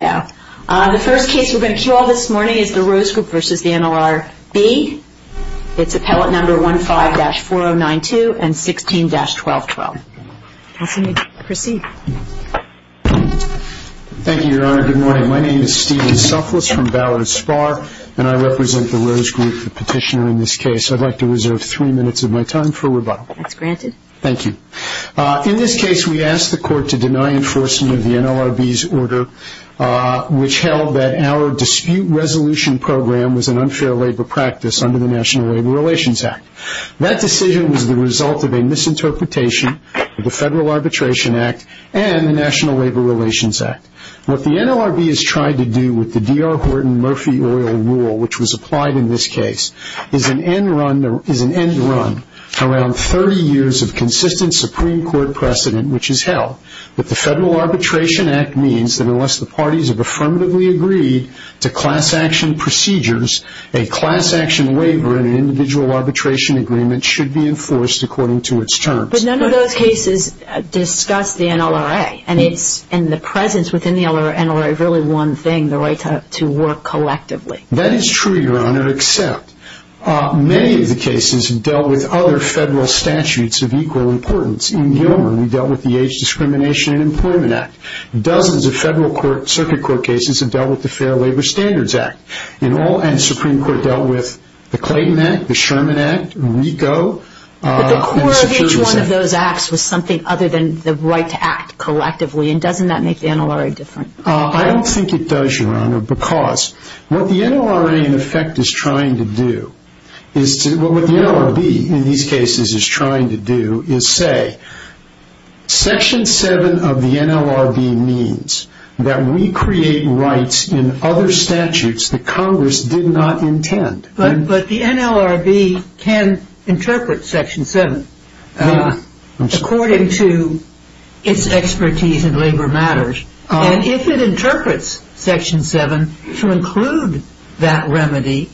The first case we're going to cue all this morning is the Rose Group v. NLRB. It's appellate number 15-4092 and 16-1212. Counsel, you may proceed. Thank you, Your Honor. Good morning. My name is Stephen Suflis from Ballard Spar, and I represent the Rose Group, the petitioner in this case. I'd like to reserve three minutes of my time for rebuttal. That's granted. Thank you. In this case, we asked the court to deny enforcement of the NLRB's order, which held that our dispute resolution program was an unfair labor practice under the National Labor Relations Act. That decision was the result of a misinterpretation of the Federal Arbitration Act and the National Labor Relations Act. What the NLRB has tried to do with the D.R. Horton Murphy Oil Rule, which was applied in this case, is an end run around 30 years of consistent Supreme Court precedent, which has held that the Federal Arbitration Act means that unless the parties have affirmatively agreed to class action procedures, a class action waiver in an individual arbitration agreement should be enforced according to its terms. But none of those cases discuss the NLRA. And the presence within the NLRA is really one thing, the right to work collectively. That is true, Your Honor, except many of the cases have dealt with other federal statutes of equal importance. In Gilman, we dealt with the Age Discrimination and Employment Act. Dozens of Federal Circuit Court cases have dealt with the Fair Labor Standards Act. And the Supreme Court dealt with the Clayton Act, the Sherman Act, RICO. But the core of each one of those acts was something other than the right to act collectively, and doesn't that make the NLRA different? I don't think it does, Your Honor, because what the NLRA in effect is trying to do, what the NLRB in these cases is trying to do, is say, Section 7 of the NLRB means that we create rights in other statutes that Congress did not intend. But the NLRB can interpret Section 7 according to its expertise in labor matters. And if it interprets Section 7 to include that remedy,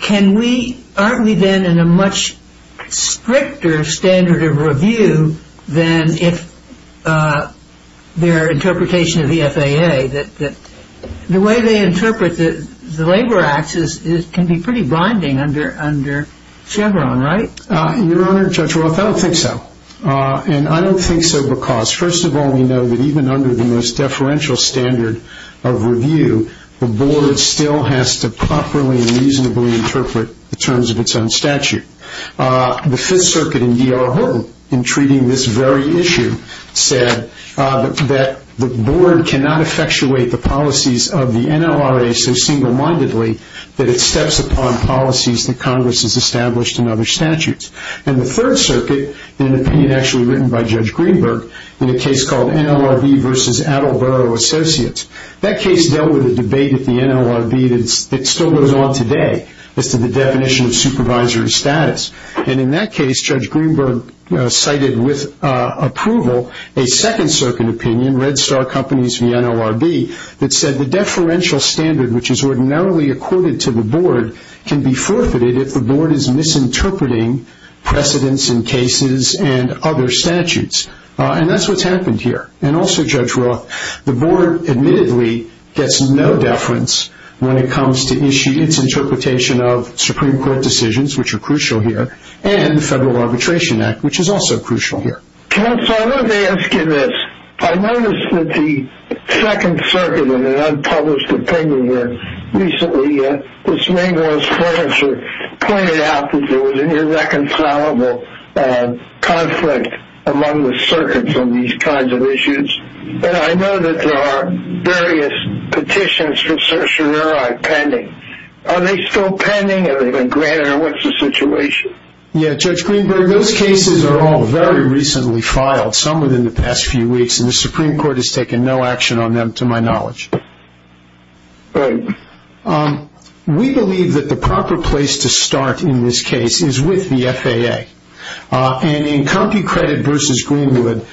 can we, aren't we then in a much stricter standard of review than if their interpretation of the FAA, that the way they interpret the labor acts can be pretty blinding under Chevron, right? Your Honor, Judge Roth, I don't think so. And I don't think so because, first of all, we know that even under the most deferential standard of review, the Board still has to properly and reasonably interpret the terms of its own statute. The Fifth Circuit in D.R. Horton, in treating this very issue, said that the Board cannot effectuate the policies of the NLRA so single-mindedly that it steps upon policies that Congress has established in other statutes. And the Third Circuit, an opinion actually written by Judge Greenberg, in a case called NLRB versus Attleboro Associates, that case dealt with a debate at the NLRB that still goes on today as to the definition of supervisory status. And in that case, Judge Greenberg cited with approval a Second Circuit opinion, Red Star Companies v. NLRB, that said the deferential standard, which is ordinarily accorded to the Board, can be forfeited if the Board is misinterpreting precedents in cases and other statutes. And that's what's happened here. And also, Judge Roth, the Board admittedly gets no deference when it comes to its interpretation of Supreme Court decisions, which are crucial here, and the Federal Arbitration Act, which is also crucial here. Counsel, let me ask you this. I noticed that the Second Circuit, in an unpublished opinion here, recently, Ms. Ringwald's furniture, pointed out that there was an irreconcilable conflict among the circuits on these kinds of issues. And I know that there are various petitions for certiorari pending. Are they still pending, and are they going to grant it, or what's the situation? Yeah, Judge Greenberg, those cases are all very recently filed, some within the past few weeks, and the Supreme Court has taken no action on them, to my knowledge. Right. We believe that the proper place to start in this case is with the FAA. And in CompuCredit versus Greenwood,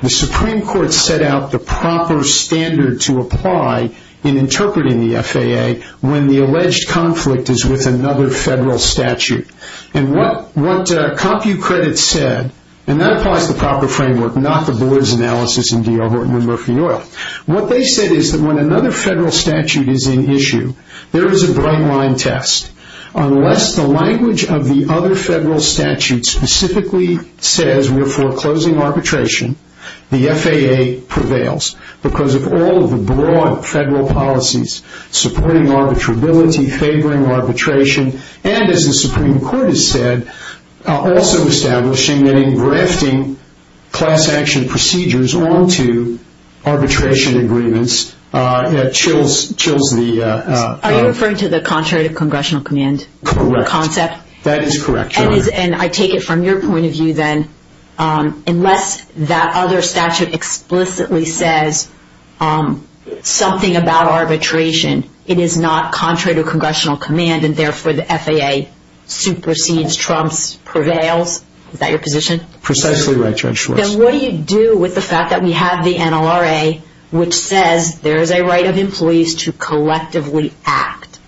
the Supreme Court set out the proper standard to apply in interpreting the FAA when the alleged conflict is with another Federal statute. And what CompuCredit said, and that applies to the proper framework, not the Bullard's analysis in D.R. Horton and Murphy & Oil. What they said is that when another Federal statute is in issue, there is a bright-line test. Unless the language of the other Federal statute specifically says we're foreclosing arbitration, the FAA prevails because of all of the broad Federal policies supporting arbitrability, favoring arbitration, and, as the Supreme Court has said, also establishing and engrafting class-action procedures onto arbitration agreements chills the... Are you referring to the contrary to congressional command concept? Correct. That is correct, Your Honor. And I take it from your point of view, then, unless that other statute explicitly says something about arbitration, it is not contrary to congressional command and, therefore, the FAA supersedes, trumps, prevails? Is that your position? Precisely right, Judge Schwartz. Then what do you do with the fact that we have the NLRA, which says there is a right of employees to collectively act,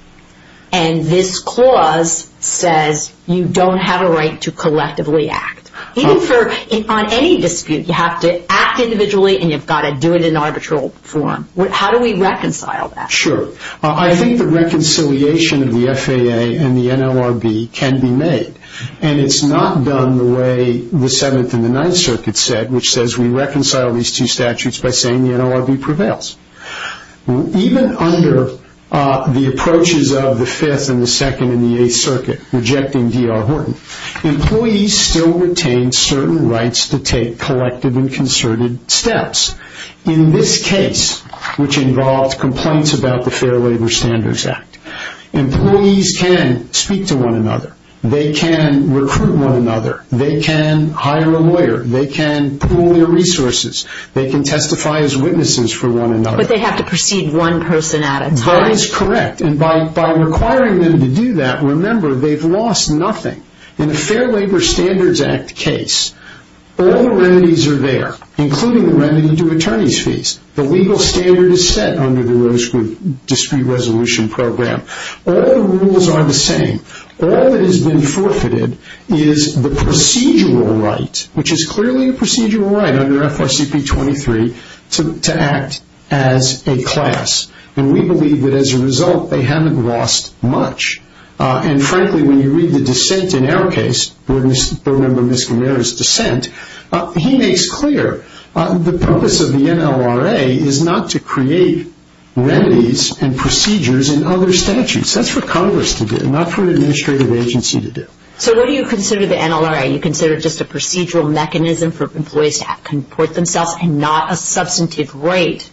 and this clause says you don't have a right to collectively act? Even on any dispute, you have to act individually and you've got to do it in arbitral form. How do we reconcile that? Sure. I think the reconciliation of the FAA and the NLRB can be made, and it's not done the way the Seventh and the Ninth Circuit said, which says we reconcile these two statutes by saying the NLRB prevails. Even under the approaches of the Fifth and the Second and the Eighth Circuit rejecting D.R. Horton, employees still retain certain rights to take collective and concerted steps. In this case, which involves complaints about the Fair Labor Standards Act, employees can speak to one another. They can recruit one another. They can hire a lawyer. They can pool their resources. They can testify as witnesses for one another. But they have to proceed one person at a time. That is correct, and by requiring them to do that, remember, they've lost nothing. In a Fair Labor Standards Act case, all the remedies are there, including the remedy to attorney's fees. The legal standard is set under the Rosewood Dispute Resolution Program. All the rules are the same. All that has been forfeited is the procedural right, which is clearly a procedural right under FRCP 23, to act as a class, and we believe that as a result they haven't lost much. And, frankly, when you read the dissent in our case, remember Ms. Gamera's dissent, he makes clear the purpose of the NLRA is not to create remedies and procedures in other statutes. That's for Congress to do, not for an administrative agency to do. So what do you consider the NLRA? You consider it just a procedural mechanism for employees to comport themselves and not a substantive right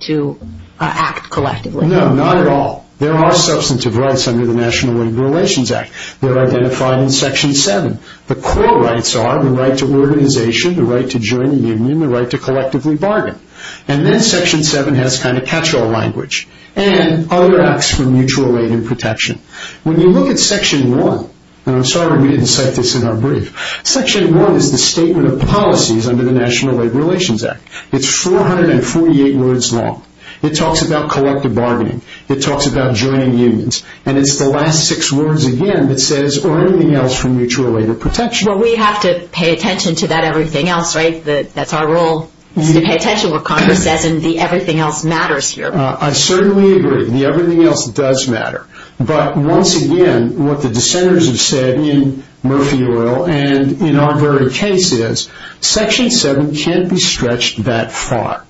to act collectively? No, not at all. There are substantive rights under the National Labor Relations Act. They're identified in Section 7. The core rights are the right to organization, the right to join a union, the right to collectively bargain. And then Section 7 has kind of catch-all language, and other acts for mutual aid and protection. When you look at Section 1, and I'm sorry we didn't cite this in our brief, Section 1 is the statement of policies under the National Labor Relations Act. It's 448 words long. It talks about collective bargaining. It talks about joining unions. And it's the last six words again that says, or anything else for mutual aid or protection. Well, we have to pay attention to that everything else, right? That's our role is to pay attention to what Congress says, and the everything else matters here. I certainly agree. The everything else does matter. But once again, what the dissenters have said in Murphy Oil and in our very case is, Section 7 can't be stretched that far.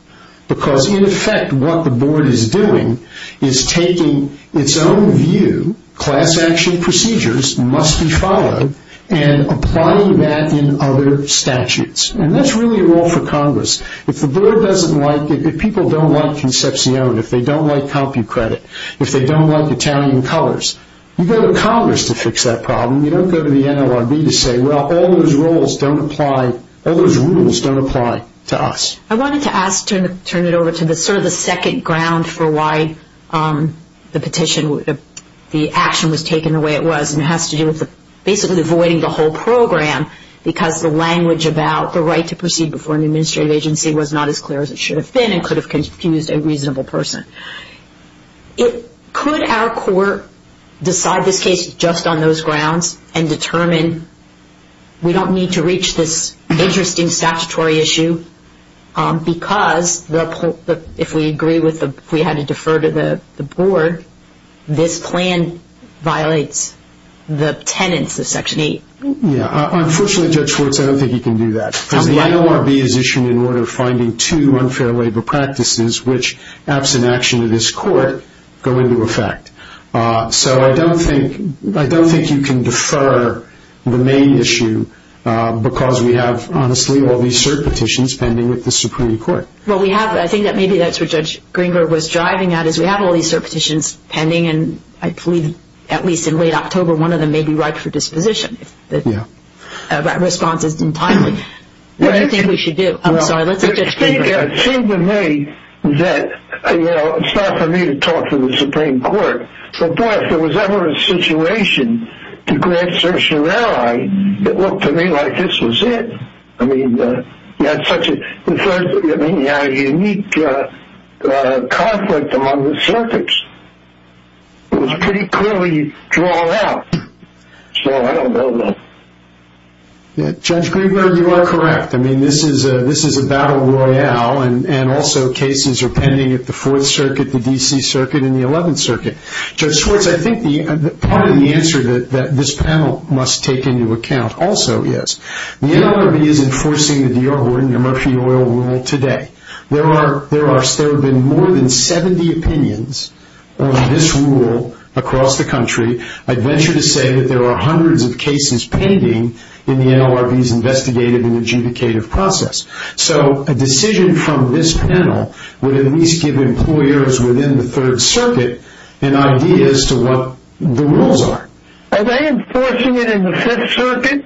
Because, in effect, what the board is doing is taking its own view, class action procedures must be followed, and applying that in other statutes. And that's really a role for Congress. If the board doesn't like it, if people don't like Concepcion, if they don't like CompuCredit, if they don't like Italian colors, you go to Congress to fix that problem. You don't go to the NLRB to say, well, all those rules don't apply to us. I wanted to ask to turn it over to the second ground for why the action was taken the way it was, and it has to do with basically avoiding the whole program, because the language about the right to proceed before an administrative agency was not as clear as it should have been, and could have confused a reasonable person. Could our court decide this case just on those grounds, and determine we don't need to reach this interesting statutory issue, because if we agree with the, if we had to defer to the board, this plan violates the tenets of Section 8? Yeah, unfortunately, Judge Schwartz, I don't think you can do that. Because the NLRB is issued in order of finding two unfair labor practices, which, absent action of this court, go into effect. So I don't think you can defer the main issue, because we have, honestly, all these cert petitions pending with the Supreme Court. Well, we have, I think that maybe that's what Judge Greenberg was driving at, is we have all these cert petitions pending, and I believe, at least in late October, one of them may be right for disposition, if the response is timely. What do you think we should do? I'm sorry, let's let Judge Greenberg answer. Well, I think it seemed to me that, you know, it's not for me to talk to the Supreme Court, but boy, if there was ever a situation to grant certiorari, it looked to me like this was it. I mean, you had such a unique conflict among the circuits. It was pretty clearly drawn out. So I don't know that. Judge Greenberg, you are correct. I mean, this is a battle royale, and also cases are pending at the Fourth Circuit, the D.C. Circuit, and the Eleventh Circuit. Judge Schwartz, I think part of the answer that this panel must take into account also is the NLRB is enforcing the Dior-Horton Murphy Oil Rule today. There have been more than 70 opinions on this rule across the country. I'd venture to say that there are hundreds of cases pending in the NLRB's investigative and adjudicative process. So a decision from this panel would at least give employers within the Third Circuit an idea as to what the rules are. Are they enforcing it in the Fifth Circuit?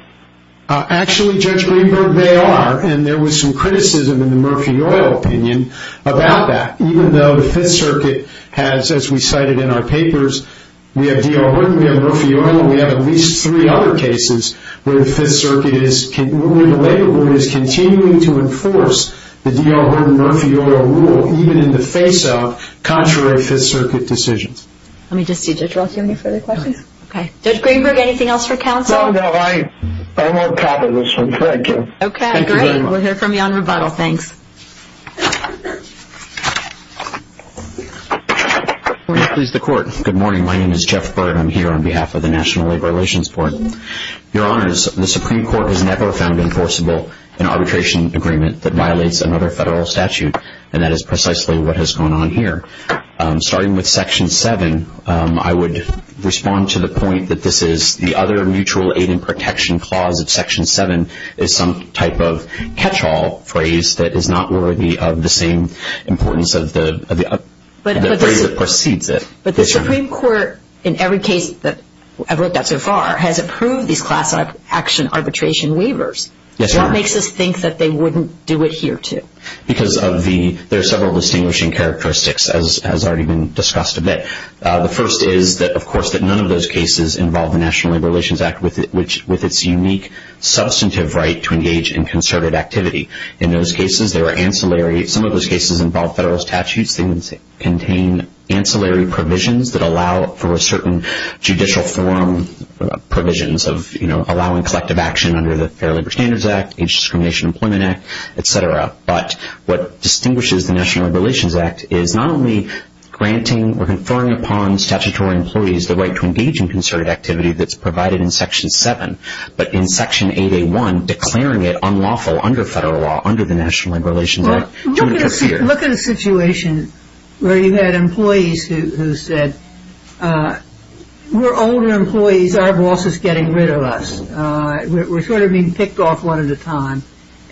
Actually, Judge Greenberg, they are, and there was some criticism in the Murphy Oil opinion about that, even though the Fifth Circuit has, as we cited in our papers, we have Dior-Horton, we have Murphy Oil, and we have at least three other cases where the Fifth Circuit is, where the labor board is continuing to enforce the Dior-Horton Murphy Oil Rule, even in the face of contrary Fifth Circuit decisions. Let me just see, Judge Roth, do you have any further questions? No. Okay. Judge Greenberg, anything else for counsel? No, no, I won't copy this one. Thank you. Okay, great. Thank you very much. We'll hear from you on rebuttal. Thanks. Good morning. Please, the Court. Good morning. My name is Jeff Byrd. I'm here on behalf of the National Labor Relations Court. Your Honors, the Supreme Court has never found enforceable an arbitration agreement that violates another federal statute, and that is precisely what has gone on here. Starting with Section 7, I would respond to the point that this is the other mutual aid and protection clause of Section 7 is some type of catch-all phrase that is not worthy of the same importance of the phrase that precedes it. But the Supreme Court, in every case that I've looked at so far, has approved these class action arbitration waivers. Yes, Your Honor. What makes us think that they wouldn't do it here, too? Because of the, there are several distinguishing characteristics, as has already been discussed a bit. The first is that, of course, that none of those cases involve the National Labor Relations Act with its unique, substantive right to engage in concerted activity. In those cases, they were ancillary. Some of those cases involve federal statutes. They contain ancillary provisions that allow for a certain judicial form provisions of, you know, allowing collective action under the Fair Labor Standards Act, Age Discrimination Employment Act, et cetera. But what distinguishes the National Labor Relations Act is not only granting or conferring upon statutory employees the right to engage in concerted activity that's provided in Section 7, but in Section 8A1 declaring it unlawful under federal law, under the National Labor Relations Act. Look at a situation where you had employees who said, we're older employees. Our boss is getting rid of us. We're sort of being picked off one at a time.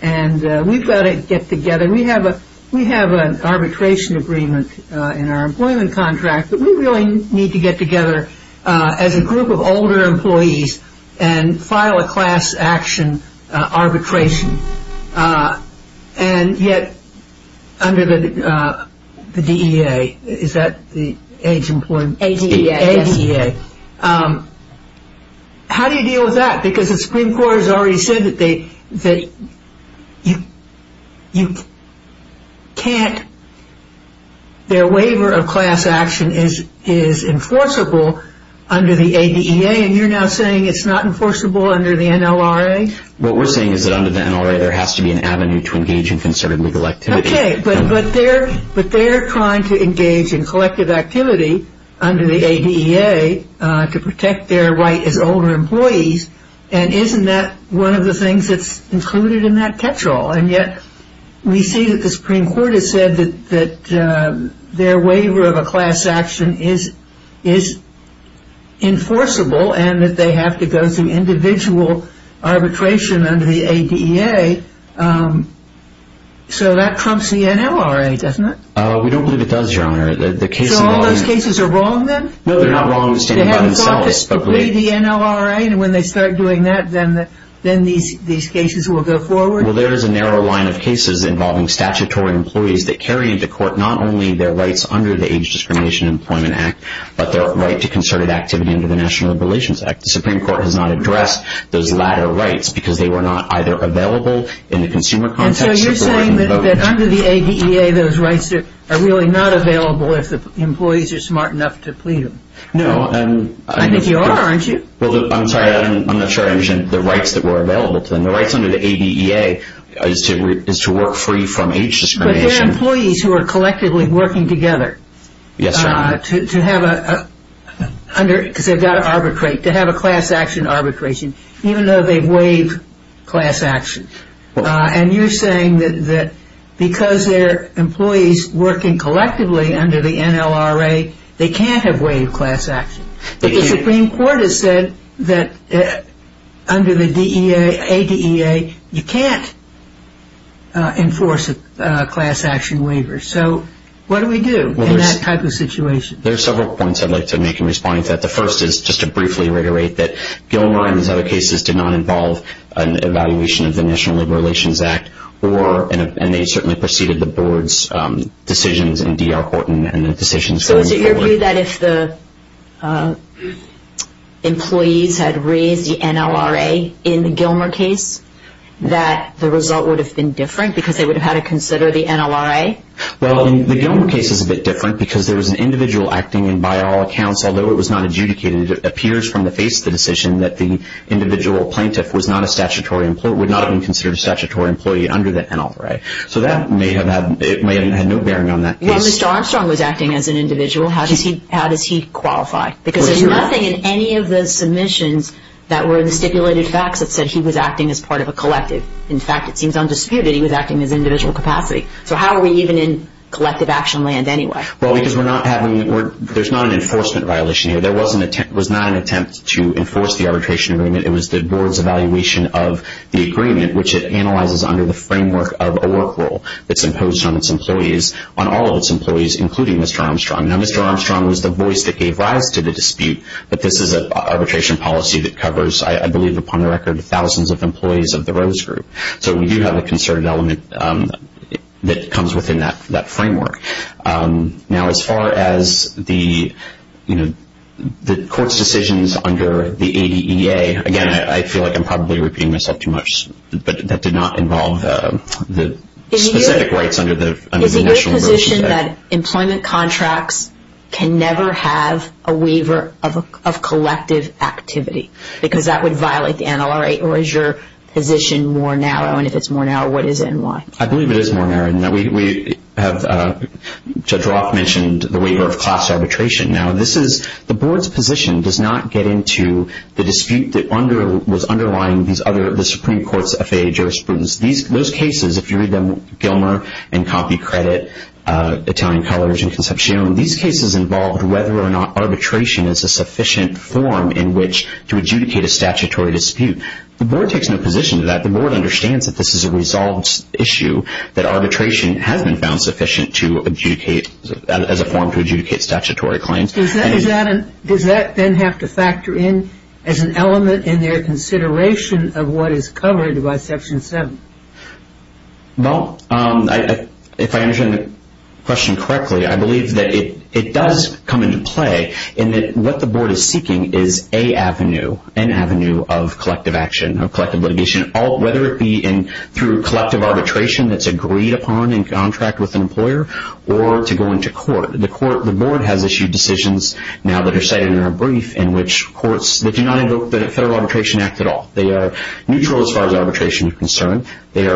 And we've got to get together. We have an arbitration agreement in our employment contract, but we really need to get together as a group of older employees and file a class action arbitration. And yet, under the DEA, is that the age employment? ADEA. ADEA. How do you deal with that? Because the Supreme Court has already said that you can't. Their waiver of class action is enforceable under the ADEA, and you're now saying it's not enforceable under the NLRA? What we're saying is that under the NLRA, there has to be an avenue to engage in concerted legal activity. Okay, but they're trying to engage in collective activity under the ADEA to protect their right as older employees, and isn't that one of the things that's included in that catch-all? And yet, we see that the Supreme Court has said that their waiver of a class action is enforceable and that they have to go through individual arbitration under the ADEA. Okay, so that trumps the NLRA, doesn't it? We don't believe it does, Your Honor. So all those cases are wrong, then? No, they're not wrong standing by themselves. They haven't thought to degrade the NLRA, and when they start doing that, then these cases will go forward? Well, there is a narrow line of cases involving statutory employees that carry into court not only their rights under the Age Discrimination and Employment Act, but their right to concerted activity under the National Relations Act. The Supreme Court has not addressed those latter rights because they were not either available in the consumer context or the right to vote. And so you're saying that under the ADEA, those rights are really not available if the employees are smart enough to plead them? No. I think you are, aren't you? Well, I'm sorry, I'm not sure I understand the rights that were available to them. The rights under the ADEA is to work free from age discrimination. But they're employees who are collectively working together. Yes, Your Honor. Because they've got to arbitrate, to have a class action arbitration, even though they waive class action. And you're saying that because they're employees working collectively under the NLRA, they can't have waived class action. But the Supreme Court has said that under the ADEA, you can't enforce class action waivers. So what do we do in that type of situation? There are several points I'd like to make in responding to that. The first is just to briefly reiterate that Gilmer and his other cases did not involve an evaluation of the National Labor Relations Act, and they certainly preceded the Board's decisions in D.R. Horton and the decisions going forward. So is it your view that if the employees had raised the NLRA in the Gilmer case, that the result would have been different because they would have had to consider the NLRA? Well, the Gilmer case is a bit different because there was an individual acting, and by all accounts, although it was not adjudicated, it appears from the face of the decision that the individual plaintiff was not a statutory employee, would not have been considered a statutory employee under the NLRA. So that may have had no bearing on that case. Well, Mr. Armstrong was acting as an individual. How does he qualify? Because there's nothing in any of the submissions that were the stipulated facts that said he was acting as part of a collective. In fact, it seems undisputed he was acting in his individual capacity. So how are we even in collective action land anyway? Well, because we're not having, there's not an enforcement violation here. There was not an attempt to enforce the arbitration agreement. It was the Board's evaluation of the agreement, which it analyzes under the framework of a work rule that's imposed on its employees, on all of its employees, including Mr. Armstrong. Now, Mr. Armstrong was the voice that gave rise to the dispute, but this is an arbitration policy that covers, I believe, upon the record, thousands of employees of the Rose Group. So we do have a concerted element that comes within that framework. Now, as far as the court's decisions under the ADEA, again, I feel like I'm probably repeating myself too much, but that did not involve the specific rights under the initial motion. You mentioned that employment contracts can never have a waiver of collective activity because that would violate the NLRA. Or is your position more narrow? And if it's more narrow, what is it and why? I believe it is more narrow than that. Judge Roth mentioned the waiver of class arbitration. Now, the Board's position does not get into the dispute that was underlying the Supreme Court's FAA jurisprudence. Those cases, if you read them, Gilmer and Coffey Credit, Italian Colors, and Concepcion, these cases involved whether or not arbitration is a sufficient form in which to adjudicate a statutory dispute. The Board takes no position to that. The Board understands that this is a resolved issue, that arbitration has been found sufficient as a form to adjudicate statutory claims. Does that then have to factor in as an element in their consideration of what is covered by Section 7? Well, if I understand the question correctly, I believe that it does come into play in that what the Board is seeking is an avenue of collective action, of collective litigation, whether it be through collective arbitration that's agreed upon in contract with an employer or to go into court. The Board has issued decisions now that are cited in our brief in which courts, they do not invoke the Federal Arbitration Act at all. They are neutral as far as arbitration is concerned. They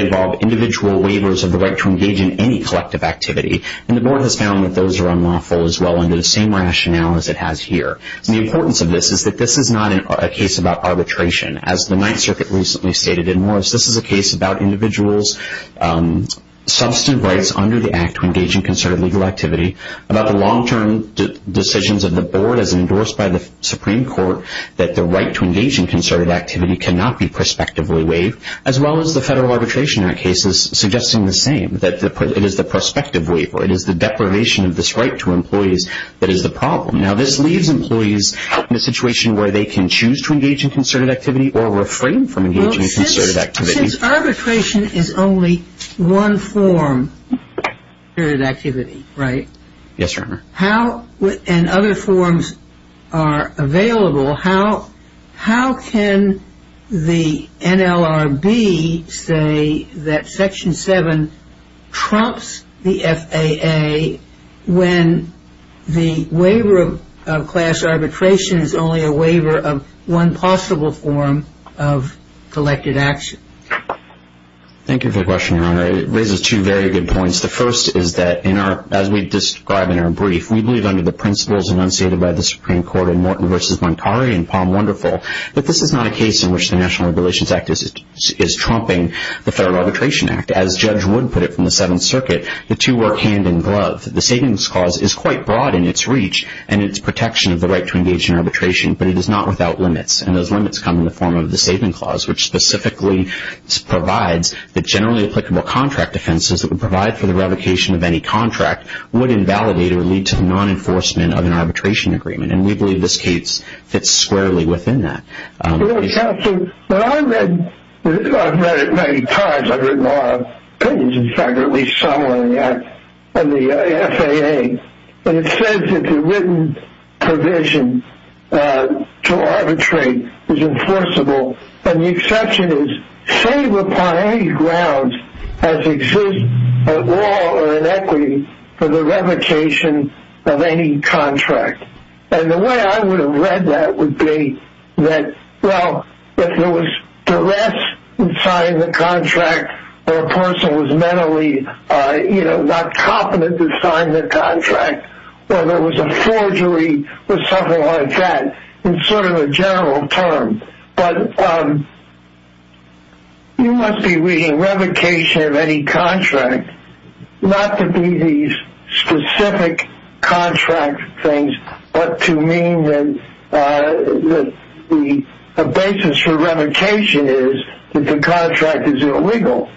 involve individual waivers of the right to engage in any collective activity, and the Board has found that those are unlawful as well under the same rationale as it has here. The importance of this is that this is not a case about arbitration. As the Ninth Circuit recently stated in Morris, this is a case about individuals' substantive rights under the Act to engage in concerted legal activity, about the long-term decisions of the Board as endorsed by the Supreme Court that the right to engage in concerted activity cannot be prospectively waived, as well as the Federal Arbitration Act cases suggesting the same, that it is the prospective waiver, it is the deprivation of this right to employees that is the problem. Now, this leaves employees in a situation where they can choose to engage in concerted activity or refrain from engaging in concerted activity. Since arbitration is only one form of concerted activity, right? Yes, Your Honor. How, and other forms are available, how can the NLRB say that Section 7 trumps the FAA when the waiver of class arbitration is only a waiver of one possible form of collected action? Thank you for the question, Your Honor. It raises two very good points. The first is that, as we describe in our brief, we believe under the principles enunciated by the Supreme Court in Morton v. Montari and Palm Wonderful that this is not a case in which the National Regulations Act is trumping the Federal Arbitration Act. As Judge Wood put it from the Seventh Circuit, the two work hand in glove. The Savings Clause is quite broad in its reach and its protection of the right to engage in arbitration, but it is not without limits. And those limits come in the form of the Savings Clause, which specifically provides that generally applicable contract offenses that would provide for the revocation of any contract would invalidate or lead to non-enforcement of an arbitration agreement. And we believe this case fits squarely within that. I've read it many times. I've written all our opinions, in fact, at least some of them in the FAA. And it says that the written provision to arbitrate is enforceable, and the exception is, save upon any grounds as exists at law or in equity, for the revocation of any contract. And the way I would have read that would be that, well, if there was duress in signing the contract, or a person was mentally not confident to sign the contract, or there was a forgery or something like that, it's sort of a general term. But you must be reading revocation of any contract, not to be these specific contract things, but to mean that the basis for revocation is that the contract is illegal.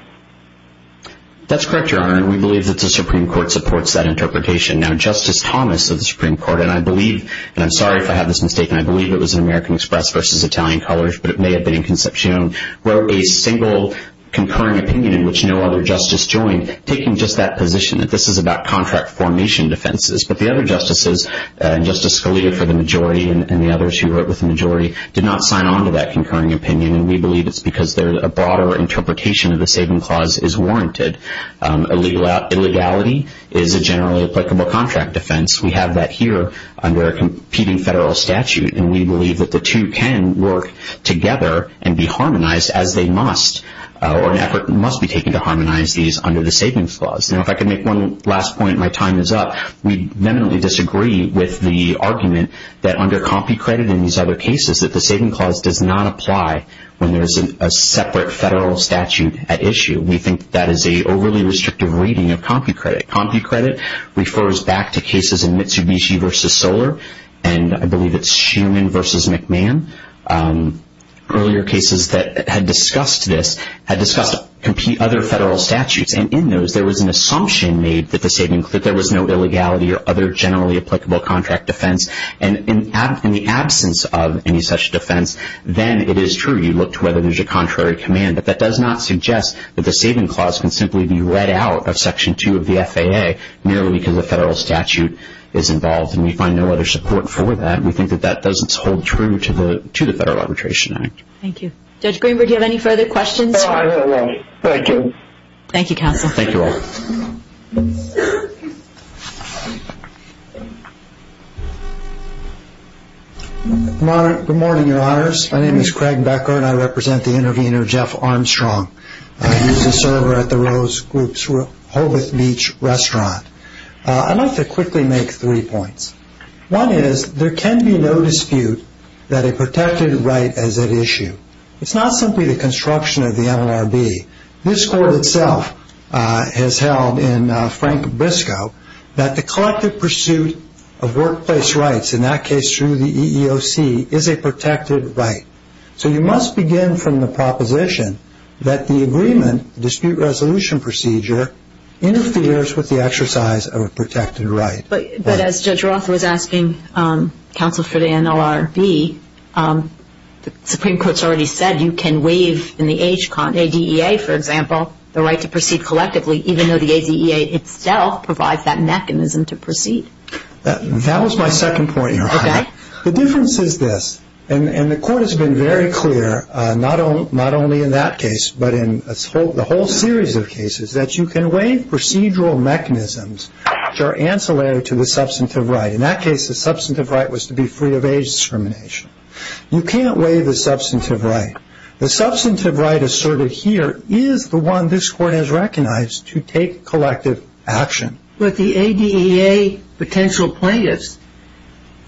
That's correct, Your Honor. And we believe that the Supreme Court supports that interpretation. Now, Justice Thomas of the Supreme Court, and I believe, and I'm sorry if I have this mistaken, I believe it was American Express versus Italian Colors, but it may have been Inconcepcion, wrote a single concurring opinion in which no other justice joined, taking just that position that this is about contract formation defenses. But the other justices, Justice Scalia for the majority and the others who wrote with the majority, did not sign on to that concurring opinion, and we believe it's because a broader interpretation of the saving clause is warranted. Illegality is a generally applicable contract defense. We have that here under a competing federal statute, and we believe that the two can work together and be harmonized as they must, or an effort must be taken to harmonize these under the savings clause. Now, if I could make one last point, my time is up. We vehemently disagree with the argument that under CompuCredit and these other cases that the saving clause does not apply when there is a separate federal statute at issue. We think that is an overly restrictive reading of CompuCredit. CompuCredit refers back to cases in Mitsubishi versus Solar, and I believe it's Shuman versus McMahon. Earlier cases that had discussed this had discussed other federal statutes, and in those there was an assumption made that there was no illegality or other generally applicable contract defense, and in the absence of any such defense, then it is true. You look to whether there's a contrary command, but that does not suggest that the saving clause can simply be read out of Section 2 of the FAA merely because a federal statute is involved, and we find no other support for that. We think that that doesn't hold true to the Federal Arbitration Act. Thank you. Judge Greenberg, do you have any further questions? No, I have no more. Thank you. Thank you, counsel. Thank you all. Good morning, Your Honors. My name is Craig Becker, and I represent the intervener, Jeff Armstrong. He's a server at the Rose Group's Hobart Beach Restaurant. I'd like to quickly make three points. One is there can be no dispute that a protected right is at issue. It's not simply the construction of the NLRB. This Court itself has held in Frank Briscoe that the collective pursuit of workplace rights, in that case through the EEOC, is a protected right. So you must begin from the proposition that the agreement, the dispute resolution procedure, interferes with the exercise of a protected right. But as Judge Roth was asking counsel for the NLRB, the Supreme Court's already said you can waive in the age con, ADEA, for example, the right to proceed collectively, even though the ADEA itself provides that mechanism to proceed. That was my second point, Your Honor. Okay. The difference is this, and the Court has been very clear not only in that case but in the whole series of cases, that you can waive procedural mechanisms which are ancillary to the substantive right. In that case, the substantive right was to be free of age discrimination. You can't waive the substantive right. The substantive right asserted here is the one this Court has recognized to take collective action. But the ADEA potential plaintiffs,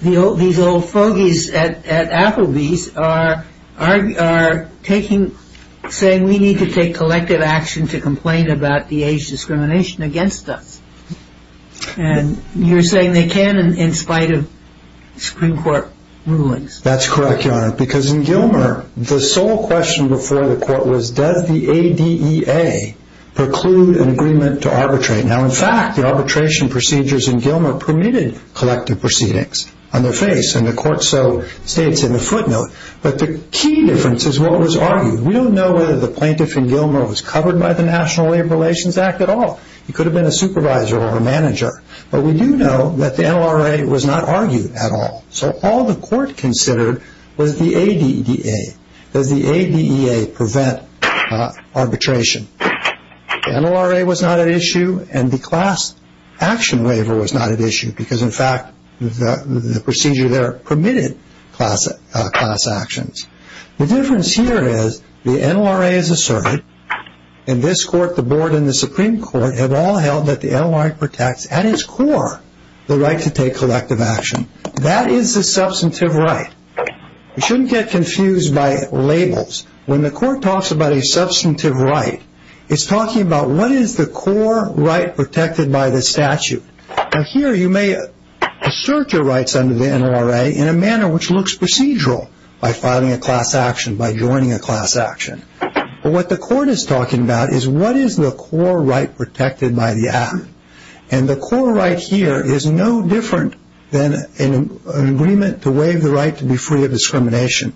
these old fogies at Applebee's, are saying we need to take collective action to complain about the age discrimination against us. And you're saying they can in spite of Supreme Court rulings. That's correct, Your Honor, because in Gilmer, the sole question before the Court was, does the ADEA preclude an agreement to arbitrate? Now, in fact, the arbitration procedures in Gilmer permitted collective proceedings on their face, and the Court so states in the footnote. But the key difference is what was argued. We don't know whether the plaintiff in Gilmer was covered by the National Labor Relations Act at all. He could have been a supervisor or a manager. But we do know that the NLRA was not argued at all. So all the Court considered was the ADEA. Does the ADEA prevent arbitration? The NLRA was not at issue, and the class action waiver was not at issue, because, in fact, the procedure there permitted class actions. The difference here is the NLRA is asserted, and this Court, the Board, and the Supreme Court have all held that the NLRA protects at its core the right to take collective action. That is a substantive right. We shouldn't get confused by labels. When the Court talks about a substantive right, it's talking about what is the core right protected by the statute. Now, here you may assert your rights under the NLRA in a manner which looks procedural, by filing a class action, by joining a class action. But what the Court is talking about is what is the core right protected by the Act. And the core right here is no different than an agreement to waive the right to be free of discrimination.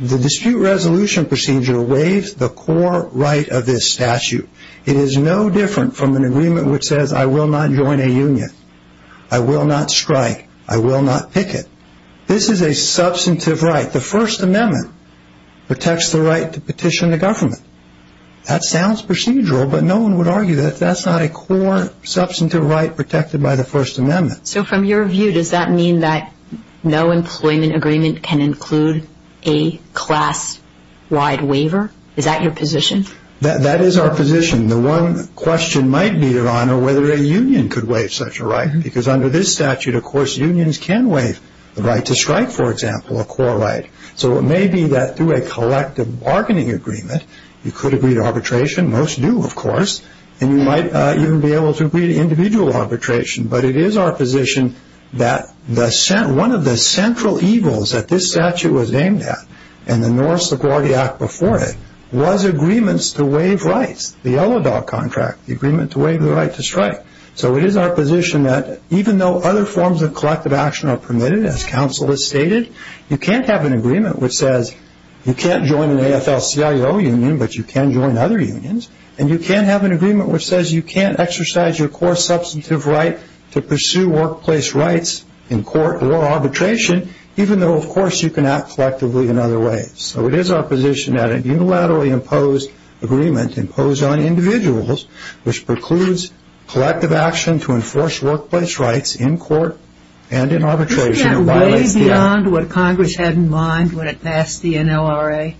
The dispute resolution procedure waives the core right of this statute. It is no different from an agreement which says, I will not join a union. I will not strike. I will not picket. This is a substantive right. The First Amendment protects the right to petition the government. That sounds procedural, but no one would argue that that's not a core substantive right protected by the First Amendment. So, from your view, does that mean that no employment agreement can include a class-wide waiver? Is that your position? That is our position. The one question might be, Your Honor, whether a union could waive such a right, because under this statute, of course, unions can waive the right to strike, for example, a core right. So it may be that through a collective bargaining agreement, you could agree to arbitration. Most do, of course. And you might even be able to agree to individual arbitration. But it is our position that one of the central evils that this statute was aimed at, and the Norris-LaGuardia Act before it, was agreements to waive rights. The yellow dog contract, the agreement to waive the right to strike. So it is our position that even though other forms of collective action are permitted, as counsel has stated, you can't have an agreement which says you can't join an AFL-CIO union, but you can join other unions. And you can't have an agreement which says you can't exercise your core substantive right to pursue workplace rights in court or arbitration, even though, of course, you can act collectively in other ways. So it is our position that a unilaterally imposed agreement imposed on individuals which precludes collective action to enforce workplace rights in court and in arbitration violates the NLRA. Isn't that way beyond what Congress had in mind when it passed the NLRA?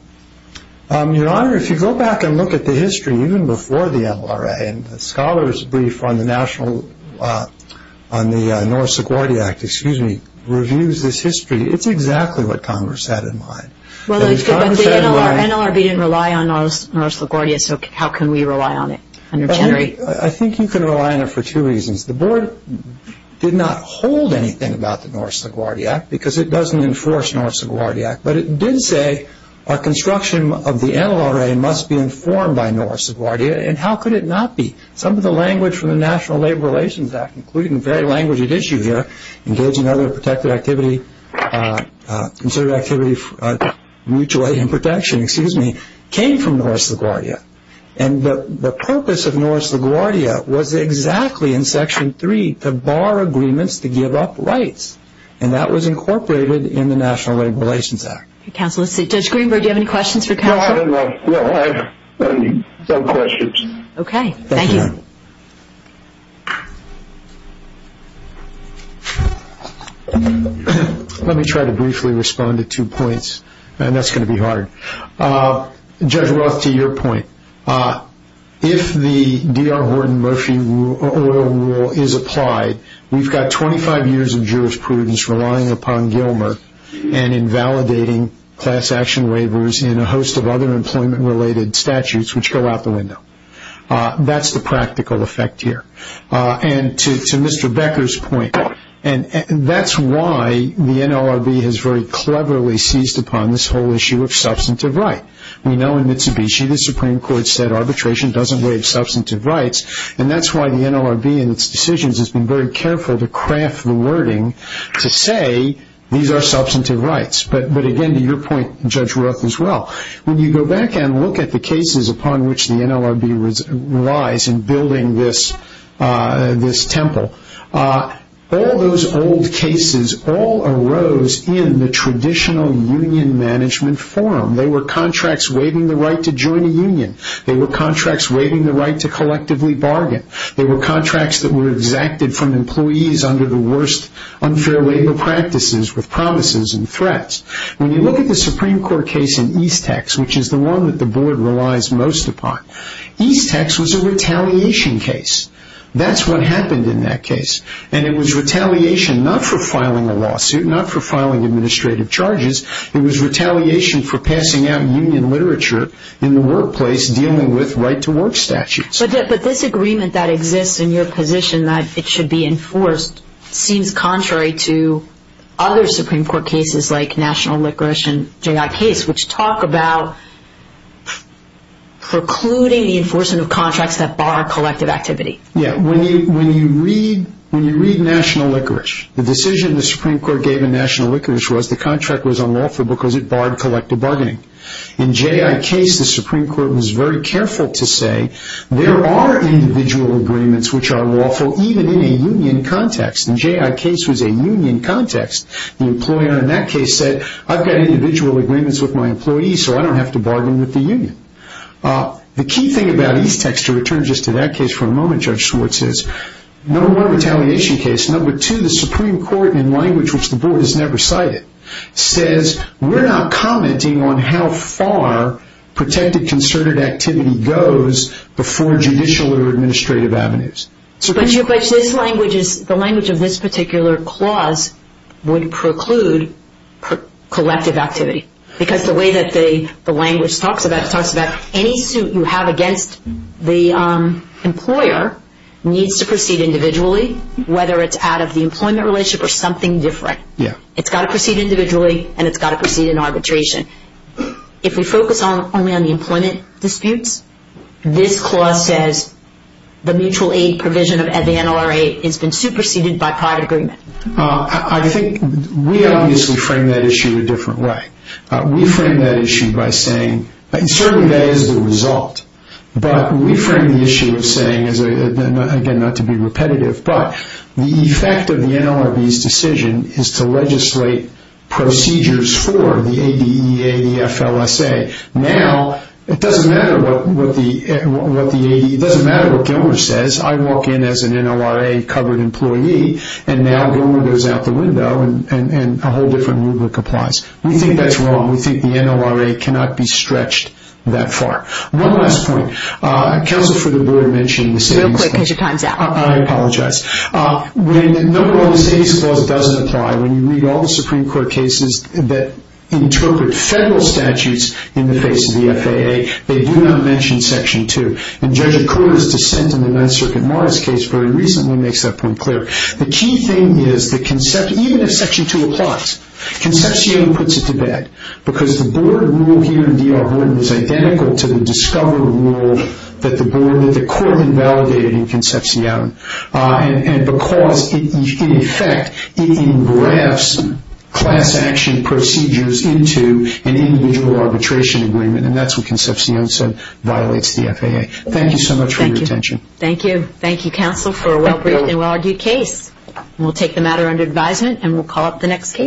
Your Honor, if you go back and look at the history, even before the NLRA, and the scholars' brief on the Norris-LaGuardia Act, excuse me, reviews this history, it's exactly what Congress had in mind. But the NLRB didn't rely on Norris-LaGuardia, so how can we rely on it? I think you can rely on it for two reasons. The Board did not hold anything about the Norris-LaGuardia Act because it doesn't enforce Norris-LaGuardia Act, but it did say our construction of the NLRA must be informed by Norris-LaGuardia, and how could it not be? Some of the language from the National Labor Relations Act, including the very language at issue here, engaging other protected activity, considered activity mutually in protection, excuse me, came from Norris-LaGuardia. And the purpose of Norris-LaGuardia was exactly in Section 3 to bar agreements to give up rights, and that was incorporated in the National Labor Relations Act. Counsel, let's see, Judge Greenberg, do you have any questions for counsel? Well, I have some questions. Okay, thank you. Let me try to briefly respond to two points, and that's going to be hard. Judge Roth, to your point, if the D.R. Horton Murphy oil rule is applied, we've got 25 years of jurisprudence relying upon Gilmer and invalidating class action waivers in a host of other employment-related statutes, which go out the window. That's the practical effect here. And to Mr. Becker's point, that's why the NLRB has very cleverly seized upon this whole issue of substantive right. We know in Mitsubishi the Supreme Court said arbitration doesn't waive substantive rights, and that's why the NLRB in its decisions has been very careful to craft the wording to say these are substantive rights. But, again, to your point, Judge Roth, as well, when you go back and look at the cases upon which the NLRB relies in building this temple, all those old cases all arose in the traditional union management forum. They were contracts waiving the right to join a union. They were contracts waiving the right to collectively bargain. They were contracts that were exacted from employees under the worst unfair labor practices with promises and threats. When you look at the Supreme Court case in Eastex, which is the one that the board relies most upon, Eastex was a retaliation case. That's what happened in that case. And it was retaliation not for filing a lawsuit, not for filing administrative charges. It was retaliation for passing out union literature in the workplace dealing with right-to-work statutes. But this agreement that exists in your position, that it should be enforced, seems contrary to other Supreme Court cases like National Liquorice and J.I. Case, which talk about precluding the enforcement of contracts that bar collective activity. Yeah. When you read National Liquorice, the decision the Supreme Court gave in National Liquorice was the contract was unlawful because it barred collective bargaining. In J.I. Case, the Supreme Court was very careful to say, there are individual agreements which are lawful even in a union context. In J.I. Case was a union context. The employer in that case said, I've got individual agreements with my employees, so I don't have to bargain with the union. The key thing about Eastex, to return just to that case for a moment, Judge Schwartz, Number one, retaliation case. Number two, the Supreme Court, in language which the Board has never cited, says we're not commenting on how far protected concerted activity goes before judicial or administrative avenues. But the language of this particular clause would preclude collective activity. Because the way that the language talks about, it talks about any suit you have against the employer needs to proceed individually, whether it's out of the employment relationship or something different. Yeah. It's got to proceed individually and it's got to proceed in arbitration. If we focus only on the employment disputes, this clause says the mutual aid provision of NLRA has been superseded by private agreement. I think we obviously frame that issue a different way. We frame that issue by saying, and certainly that is the result, but we frame the issue of saying, again, not to be repetitive, but the effect of the NLRB's decision is to legislate procedures for the ADE, ADFLSA. Now, it doesn't matter what Gilmer says. I walk in as an NLRA-covered employee and now Gilmer goes out the window and a whole different rubric applies. We think that's wrong. We think the NLRA cannot be stretched that far. One last point. Counsel for the Board mentioned the savings clause. Real quick, because your time's out. I apologize. When the No Wrong in Savings Clause doesn't apply, when you read all the Supreme Court cases that interpret federal statutes in the face of the FAA, they do not mention Section 2. And Judge O'Connor's dissent in the Ninth Circuit Morris case very recently makes that point clear. The key thing is that even if Section 2 applies, Concepcion puts it to bed, because the Board rule here in D.R. Vernon is identical to the discovery rule that the Court invalidated in Concepcion, and because, in effect, it engrafts class action procedures into an individual arbitration agreement, and that's what Concepcion said violates the FAA. Thank you so much for your attention. Thank you. Thank you, Counsel, for a well-briefed and well-argued case. We'll take the matter under advisement and we'll call up the next case.